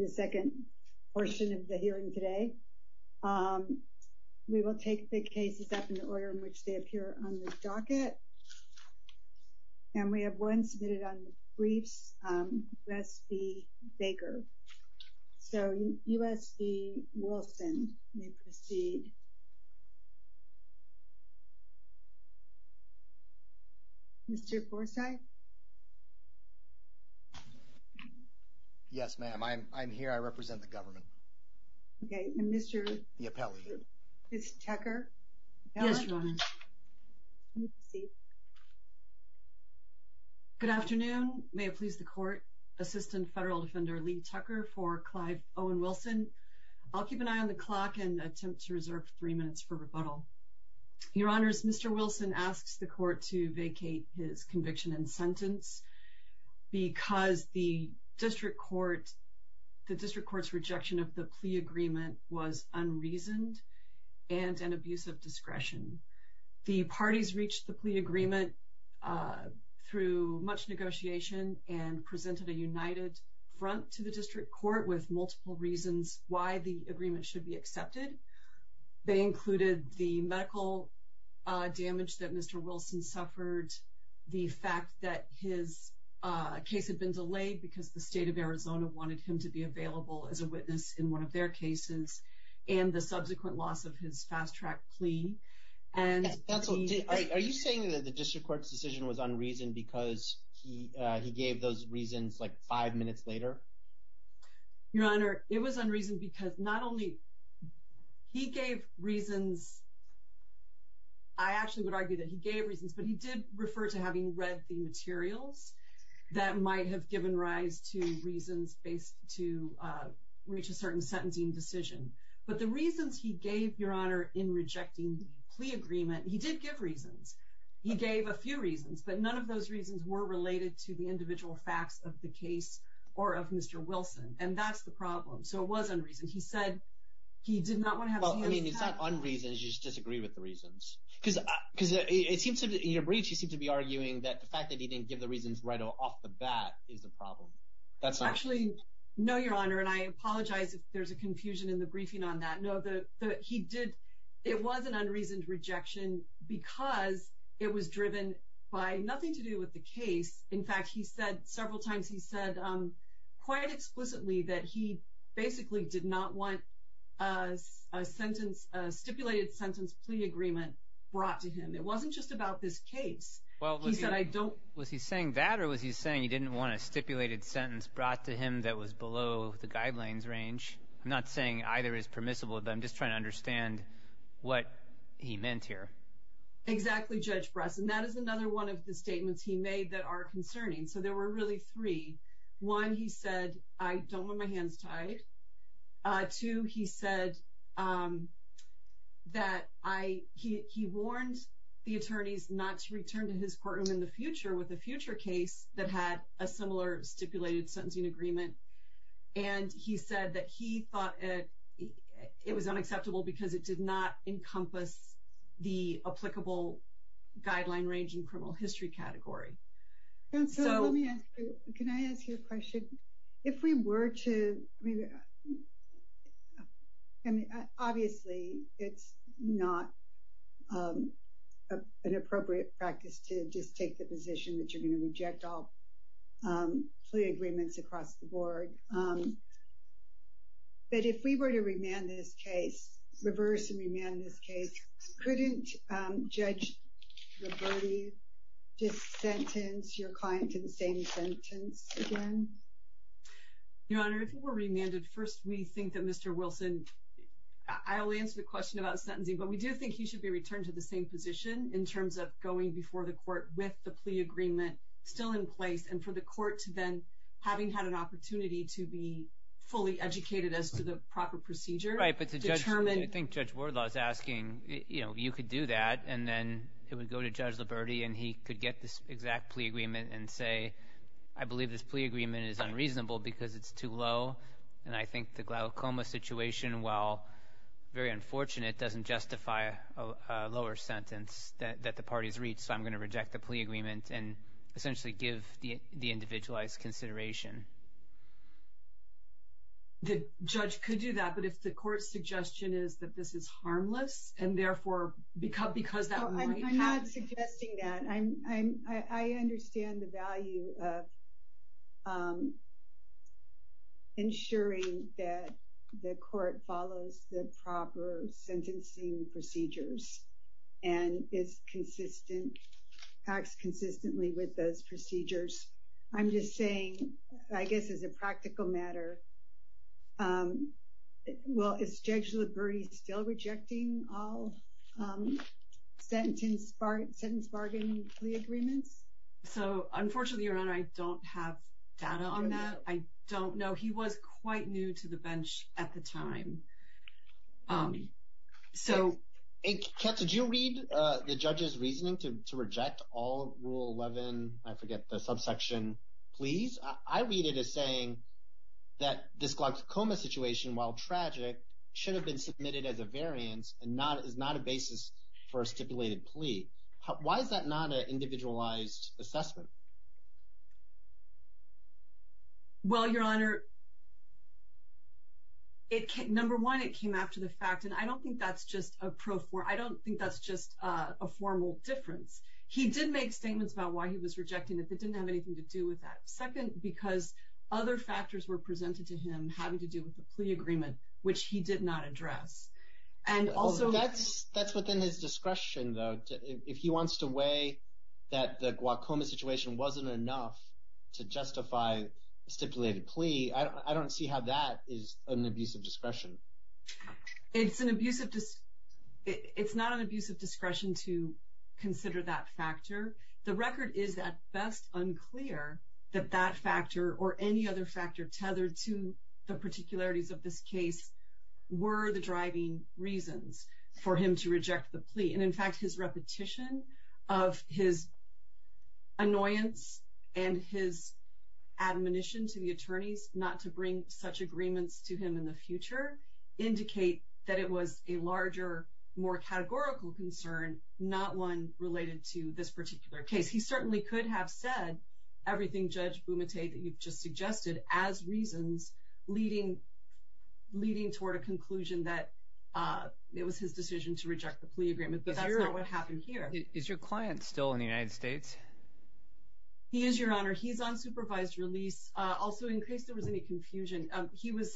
the second portion of the hearing today. Um, we will take the cases up in the order in the docket and we have one submitted on the briefs. Um, that's the baker. So U. S. B. Wilson may proceed. Mr Forsythe. Yes, ma'am. I'm here. I represent the government. Okay. Mr. Tucker. Good afternoon. May it please the court. Assistant federal defender Lee Tucker for Clive Owen Wilson. I'll keep an eye on the clock and attempt to reserve three minutes for rebuttal. Your honors. Mr. Wilson asks the court to vacate his conviction and sentence because the district court, the district court's rejection of the plea agreement. Was unreasoned and an abuse of discretion. The parties reached the plea agreement, uh, through much negotiation and presented a united front to the district court with multiple reasons why the agreement should be accepted. They included the medical, uh, damage that Mr. Wilson suffered the fact that his, uh, case had been delayed because the state of Arizona wanted him to be available as a witness in one of their cases and the subsequent loss of his fast track plea. And are you saying that the district court's decision was unreasoned because he, uh, he gave those reasons like five minutes later, your honor, it was unreasoned because not only he gave reasons, I actually would argue that he gave reasons, but he did refer to having read the materials that might have given rise to reasons based to, uh, reach a certain sentencing decision. But the reasons he gave your honor in rejecting the plea agreement, he did give reasons. He gave a few reasons, but none of those reasons were related to the individual facts of the case or of Mr. Wilson. And that's the problem. So it was unreasoned. He said he did not want to have. I mean, it's not unreasoned. You just disagree with the reasons because, because it seems to be your briefs. You seem to be arguing that the fact that he didn't give the reasons right off the bat is the problem. That's actually no, your honor. And I apologize if there's a confusion in the briefing on that. No, the, the, he did. It was an unreasoned rejection because it was driven by nothing to do with the case. In fact, he said several times, he said, um, quite explicitly that he basically did not want a sentence, a stipulated sentence plea agreement brought to him. It wasn't just about this case. Well, was he saying that or was he saying he didn't want a stipulated sentence brought to him that was below the guidelines range? I'm not saying either is permissible, but I'm just trying to understand what he meant here. Exactly. Judge Bresson, that is another one of the statements he made that are concerning. So there were really three. One, he said, I don't want my hands tied to. He said that I, he, he warned the attorneys not to return to his courtroom in the future with a future case that had a similar stipulated sentencing agreement. And he said that he thought it was unacceptable because it did not encompass the applicable guideline range in criminal history category. Can I ask you a question? If we were to, I mean, obviously it's not an appropriate practice to just take the position that you're going to reject all plea agreements across the board. But if we were to remand this case, reverse and remand this case, couldn't Judge Roberti just sentence your client to the same sentence again? Your Honor, if we were remanded first, we think that Mr. Wilson, I only answered the question about sentencing, but we do think he should be returned to the same position in terms of going before the court with the plea agreement still in place and for the court to then having had an opportunity to be fully educated as to the proper procedure. I think Judge Wardlaw is asking, you know, you could do that and then it would go to Judge Liberti and he could get this exact plea agreement and say, I believe this plea agreement is unreasonable because it's too low. And I think the glaucoma situation, while very unfortunate, doesn't justify a lower sentence that the parties reach. So I'm going to reject the plea agreement and essentially give the individualized consideration. The judge could do that, but if the court's suggestion is that this is harmless and therefore because that might happen. I'm not suggesting that. I understand the value of ensuring that the court follows the proper sentencing procedures and is consistent, acts consistently with those procedures. I'm just saying, I guess as a practical matter, well, is Judge Liberti still rejecting all sentence bargain plea agreements? So unfortunately, Your Honor, I don't have data on that. I don't know. He was quite new to the bench at the time. So... Kat, did you read the judge's reasoning to reject all Rule 11, I forget the subsection, pleas? I read it as saying that this glaucoma situation, while tragic, should have been submitted as a variance and is not a basis for a stipulated plea. Why is that not an individualized assessment? Well, Your Honor, number one, it came after the fact, and I don't think that's just a pro for, I don't think that's just a formal difference. He did make statements about why he was rejecting it that didn't have anything to do with that. Second, because other factors were presented to him having to do with the plea agreement, which he did not address. That's within his discretion, though. If he wants to weigh that the glaucoma situation wasn't enough to justify a stipulated plea, I don't see how that is an abusive discretion. It's not an abusive discretion to consider that factor. The record is at best unclear that that factor or any other factor tethered to the particularities of this case were the driving reasons for him to reject the plea. And, in fact, his repetition of his annoyance and his admonition to the attorneys not to bring such agreements to him in the future indicate that it was a larger, more categorical concern, not one related to this particular case. He certainly could have said everything, Judge Bumate, that you've just suggested as reasons leading toward a conclusion that it was his decision to reject the plea agreement. But that's not what happened here. Is your client still in the United States? He is, Your Honor. He's on supervised release. Also, in case there was any confusion, he was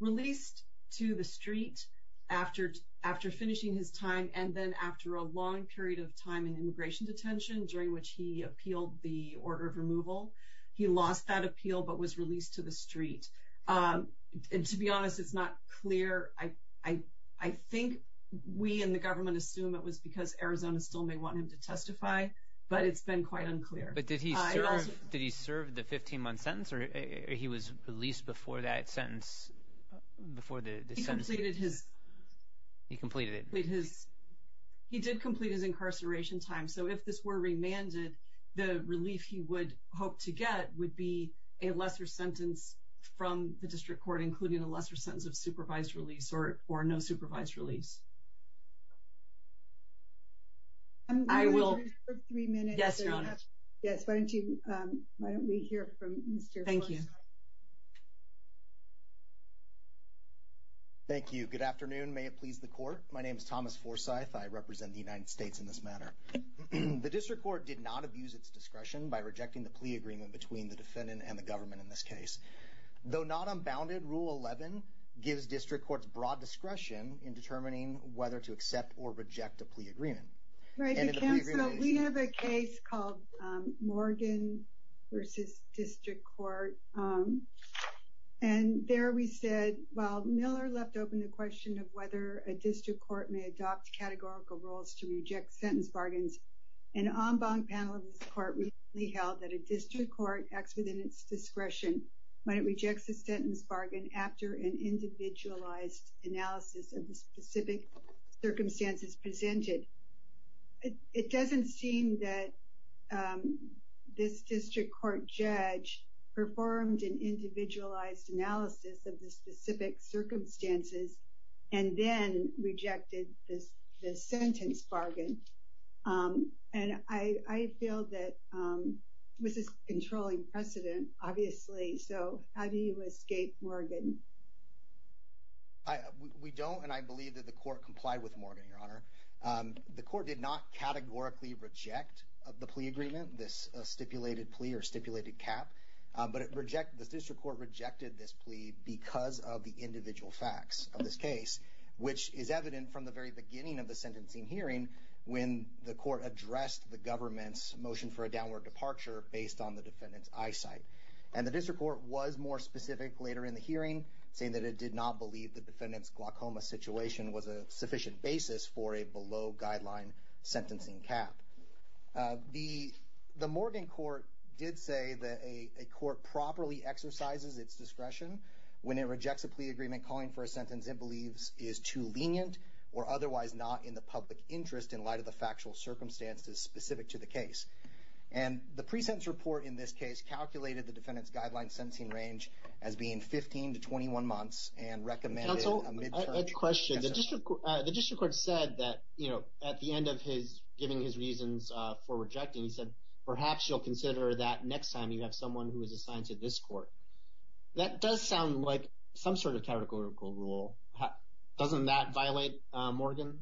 released to the street after finishing his time and then after a long period of time in immigration detention, during which he appealed the order of removal. He lost that appeal but was released to the street. And to be honest, it's not clear. I think we in the government assume it was because Arizona still may want him to testify, but it's been quite unclear. But did he serve the 15-month sentence, or he was released before that sentence? He completed his incarceration time. So if this were remanded, the relief he would hope to get would be a lesser sentence from the district court, including a lesser sentence of supervised release or no supervised release. I will. Yes, Your Honor. Yes, why don't we hear from Mr. Forsythe. Thank you. Thank you. Good afternoon. May it please the Court. My name is Thomas Forsythe. I represent the United States in this matter. The district court did not abuse its discretion by rejecting the plea agreement between the defendant and the government in this case. Though not unbounded, Rule 11 gives district courts broad discretion in determining whether to accept or reject a plea agreement. Right. Counsel, we have a case called Morgan v. District Court. And there we said, well, Miller left open the question of whether a district court may adopt categorical rules to reject sentence bargains. An en banc panel of this court recently held that a district court acts within its discretion when it rejects a sentence bargain after an individualized analysis of the specific circumstances presented. It doesn't seem that this district court judge performed an individualized analysis of the specific circumstances and then rejected the sentence bargain. And I feel that this is controlling precedent, obviously. So how do you escape Morgan? We don't, and I believe that the court complied with Morgan, Your Honor. The court did not categorically reject the plea agreement, this stipulated plea or stipulated cap. But the district court rejected this plea because of the individual facts of this case, which is evident from the very beginning of the sentencing hearing when the court addressed the government's motion for a downward departure based on the defendant's eyesight. And the district court was more specific later in the hearing, saying that it did not believe the defendant's glaucoma situation was a sufficient basis for a below guideline sentencing cap. The Morgan court did say that a court properly exercises its discretion when it rejects a plea agreement calling for a sentence it believes is too lenient or otherwise not in the public interest in light of the factual circumstances specific to the case. And the pre-sentence report in this case calculated the defendant's guideline sentencing range as being 15 to 21 months and recommended a midterms. I have a question. The district court said that, you know, at the end of his giving his reasons for rejecting, he said perhaps you'll consider that next time you have someone who is assigned to this court. That does sound like some sort of categorical rule. Doesn't that violate Morgan?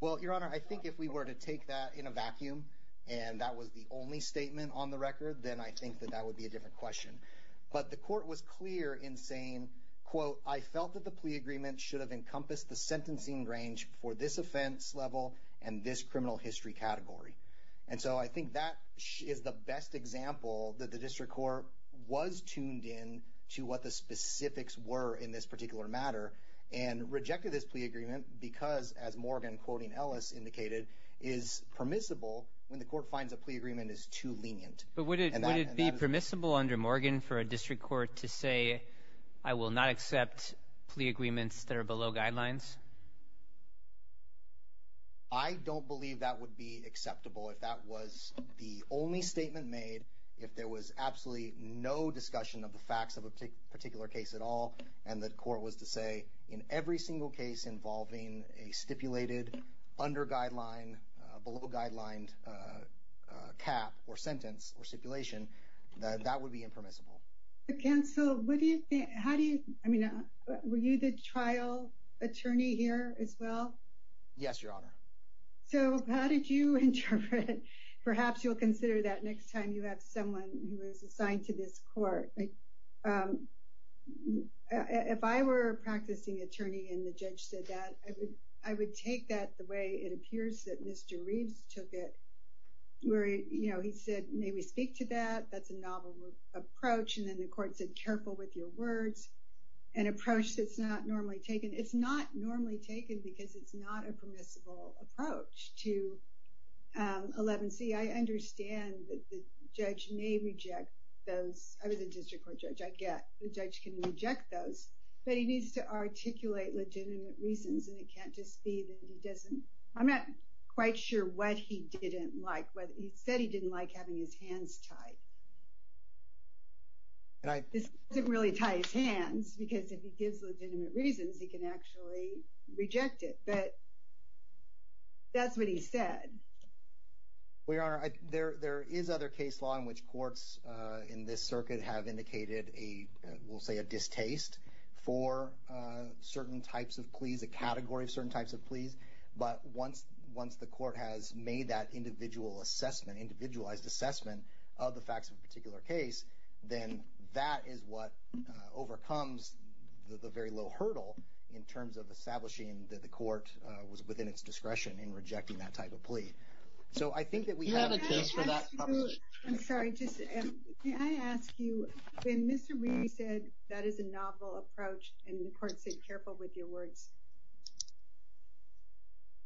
Well, Your Honor, I think if we were to take that in a vacuum and that was the only statement on the record, then I think that that would be a different question. But the court was clear in saying, quote, I felt that the plea agreement should have encompassed the sentencing range for this offense level and this criminal history category. And so I think that is the best example that the district court was tuned in to what the specifics were in this particular matter and rejected this plea agreement because, as Morgan, quoting Ellis, indicated, is permissible when the court finds a plea agreement is too lenient. But would it be permissible under Morgan for a district court to say, I will not accept plea agreements that are below guidelines? I don't believe that would be acceptable if that was the only statement made, if there was absolutely no discussion of the facts of a particular case at all, and the court was to say in every single case involving a stipulated under guideline, below guideline cap or sentence or stipulation, that would be impermissible. Counsel, what do you think? How do you I mean, were you the trial attorney here as well? Yes, Your Honor. So how did you interpret it? Perhaps you'll consider that next time you have someone who is assigned to this court. If I were a practicing attorney and the judge said that, I would take that the way it appears that Mr. Reeves took it, where he said, may we speak to that? That's a novel approach. And then the court said, careful with your words, an approach that's not normally taken. It's not normally taken because it's not a permissible approach to 11C. I understand that the judge may reject those. I was a district court judge. I get the judge can reject those. But he needs to articulate legitimate reasons, and it can't just be that he doesn't. I'm not quite sure what he didn't like. He said he didn't like having his hands tied. He doesn't really tie his hands because if he gives legitimate reasons, he can actually reject it. But that's what he said. Well, Your Honor, there is other case law in which courts in this circuit have indicated, we'll say, a distaste for certain types of pleas, a category of certain types of pleas. But once the court has made that individual assessment, individualized assessment of the facts of a particular case, then that is what overcomes the very low hurdle in terms of establishing that the court was within its discretion in rejecting that type of plea. So I think that we have a case for that. I'm sorry. Can I ask you, when Mr. Reed said that is a novel approach and the court said, careful with your words,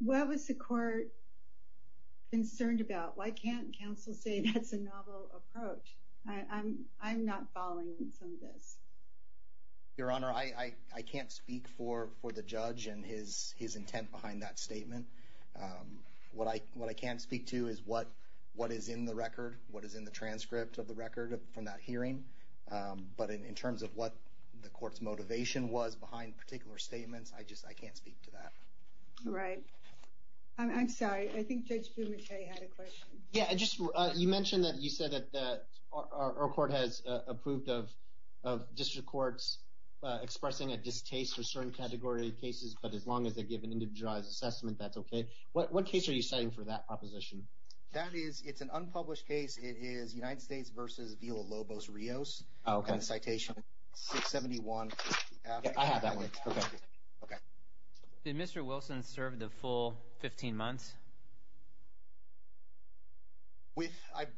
what was the court concerned about? Why can't counsel say that's a novel approach? I'm not following some of this. Your Honor, I can't speak for the judge and his intent behind that statement. What I can speak to is what is in the record, what is in the transcript of the record from that hearing. But in terms of what the court's motivation was behind particular statements, I just can't speak to that. All right. I'm sorry. I think Judge Bumate had a question. Yeah. You mentioned that you said that our court has approved of district courts expressing a distaste for certain category cases, but as long as they give an individualized assessment, that's okay. What case are you citing for that proposition? It's an unpublished case. It is United States v. Villalobos-Rios. Oh, okay. Citation 671. I have that one. Okay. Did Mr. Wilson serve the full 15 months?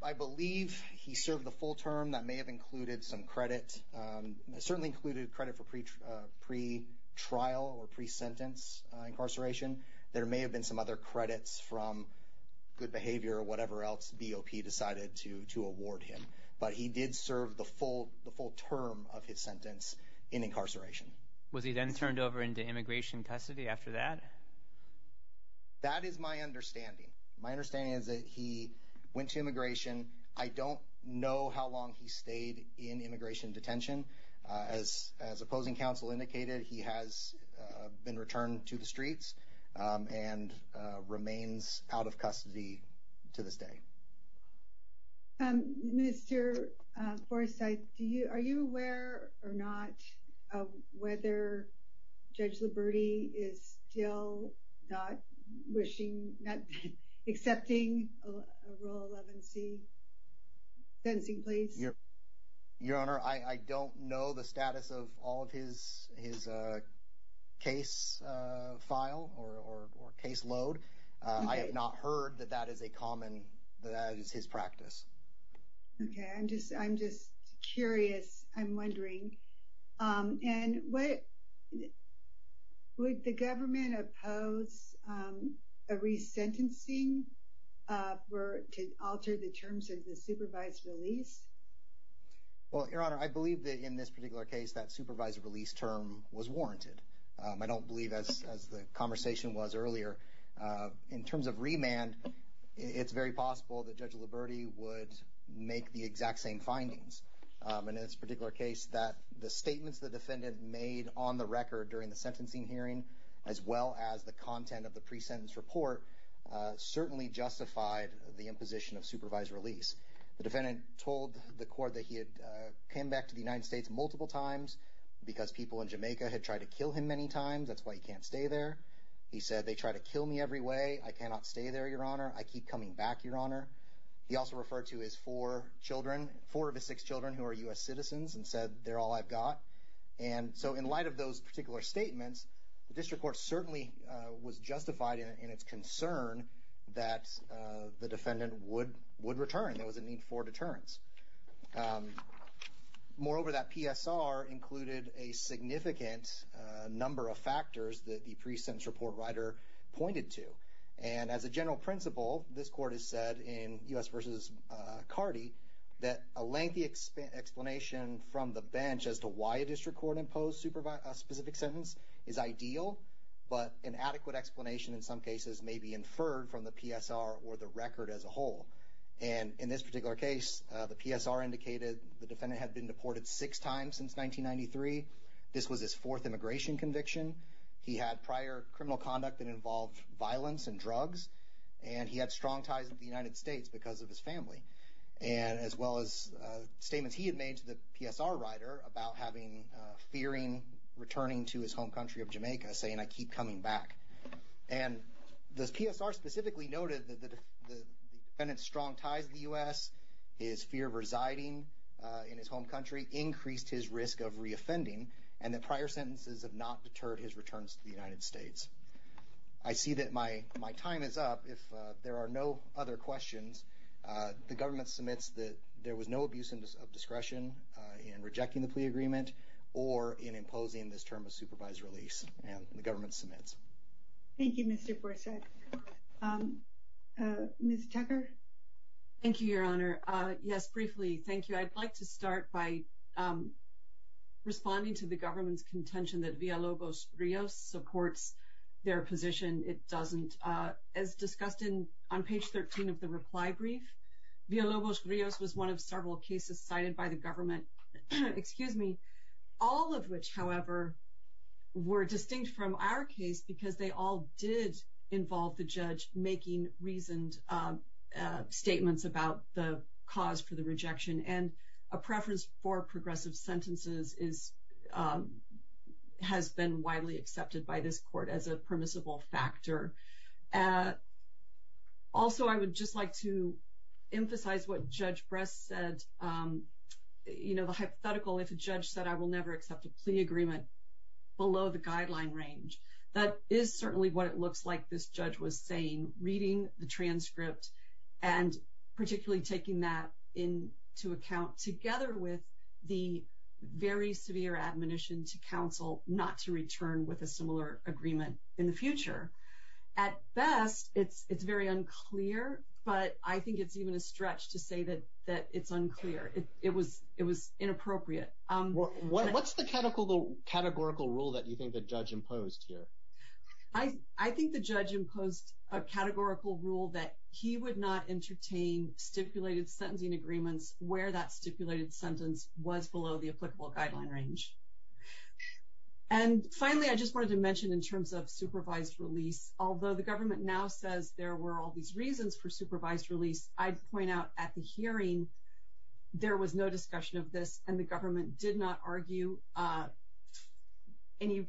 I believe he served the full term. That may have included some credit. It certainly included credit for pretrial or pre-sentence incarceration. There may have been some other credits from good behavior or whatever else BOP decided to award him. But he did serve the full term of his sentence in incarceration. Was he then turned over into immigration custody after that? That is my understanding. My understanding is that he went to immigration. I don't know how long he stayed in immigration detention. As opposing counsel indicated, he has been returned to the streets and remains out of custody to this day. Mr. Forsythe, are you aware or not of whether Judge Liberti is still not accepting a rule 11c sentencing, please? Your Honor, I don't know the status of all of his case file or case load. I have not heard that that is his practice. Okay. I'm just curious. I'm wondering. And would the government oppose a resentencing to alter the terms of the supervised release? Well, Your Honor, I believe that in this particular case, that supervised release term was warranted. I don't believe, as the conversation was earlier, in terms of remand, it's very possible that Judge Liberti would make the exact same findings. And in this particular case, that the statements the defendant made on the record during the sentencing hearing, as well as the content of the pre-sentence report, certainly justified the imposition of supervised release. The defendant told the court that he had came back to the United States multiple times because people in Jamaica had tried to kill him many times. That's why he can't stay there. He said, they try to kill me every way. I cannot stay there, Your Honor. I keep coming back, Your Honor. He also referred to his four children, four of his six children, who are U.S. citizens and said, they're all I've got. And so in light of those particular statements, the district court certainly was justified in its concern that the defendant would return. There was a need for deterrence. Moreover, that PSR included a significant number of factors that the pre-sentence report writer pointed to. And as a general principle, this court has said in U.S. v. Cardi that a lengthy explanation from the bench as to why a district court imposed a specific sentence is ideal, but an adequate explanation in some cases may be inferred from the PSR or the record as a whole. And in this particular case, the PSR indicated the defendant had been deported six times since 1993. This was his fourth immigration conviction. He had prior criminal conduct that involved violence and drugs, and he had strong ties with the United States because of his family, as well as statements he had made to the PSR writer about having fearing returning to his home country of Jamaica, saying, I keep coming back. And the PSR specifically noted that the defendant's strong ties to the U.S., his fear of residing in his home country, increased his risk of reoffending, and that prior sentences have not deterred his returns to the United States. I see that my time is up. If there are no other questions, the government submits that there was no abuse of discretion in rejecting the plea agreement or in imposing this term of supervised release, and the government submits. Thank you, Mr. Borsak. Ms. Tucker? Thank you, Your Honor. Yes, briefly, thank you. I'd like to start by responding to the government's contention that Villalobos-Rios supports their position. It doesn't. As discussed on page 13 of the reply brief, Villalobos-Rios was one of several cases cited by the government. All of which, however, were distinct from our case because they all did involve the judge making reasoned statements about the cause for the rejection. And a preference for progressive sentences has been widely accepted by this court as a permissible factor. Also, I would just like to emphasize what Judge Bress said. You know, the hypothetical, if a judge said, I will never accept a plea agreement below the guideline range. That is certainly what it looks like this judge was saying, reading the transcript and particularly taking that into account, together with the very severe admonition to counsel not to return with a similar agreement in the future. At best, it's very unclear, but I think it's even a stretch to say that it's unclear. It was inappropriate. What's the categorical rule that you think the judge imposed here? I think the judge imposed a categorical rule that he would not entertain stipulated sentencing agreements where that stipulated sentence was below the applicable guideline range. And finally, I just wanted to mention in terms of supervised release, although the government now says there were all these reasons for supervised release, I'd point out at the hearing there was no discussion of this, and the government did not argue any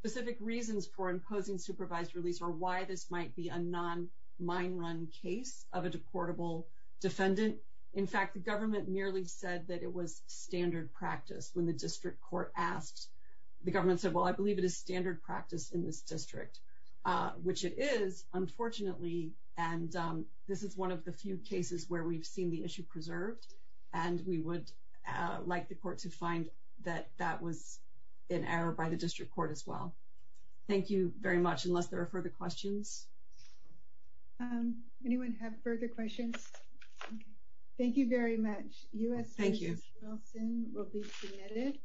specific reasons for imposing supervised release or why this might be a non-mine run case of a deportable defendant. In fact, the government merely said that it was standard practice when the district court asked. The government said, well, I believe it is standard practice in this district, which it is, unfortunately, and this is one of the few cases where we've seen the issue preserved, and we would like the court to find that that was an error by the district court as well. Thank you very much, unless there are further questions. Anyone have further questions? Thank you very much. U.S. Justice Wilson will be submitted.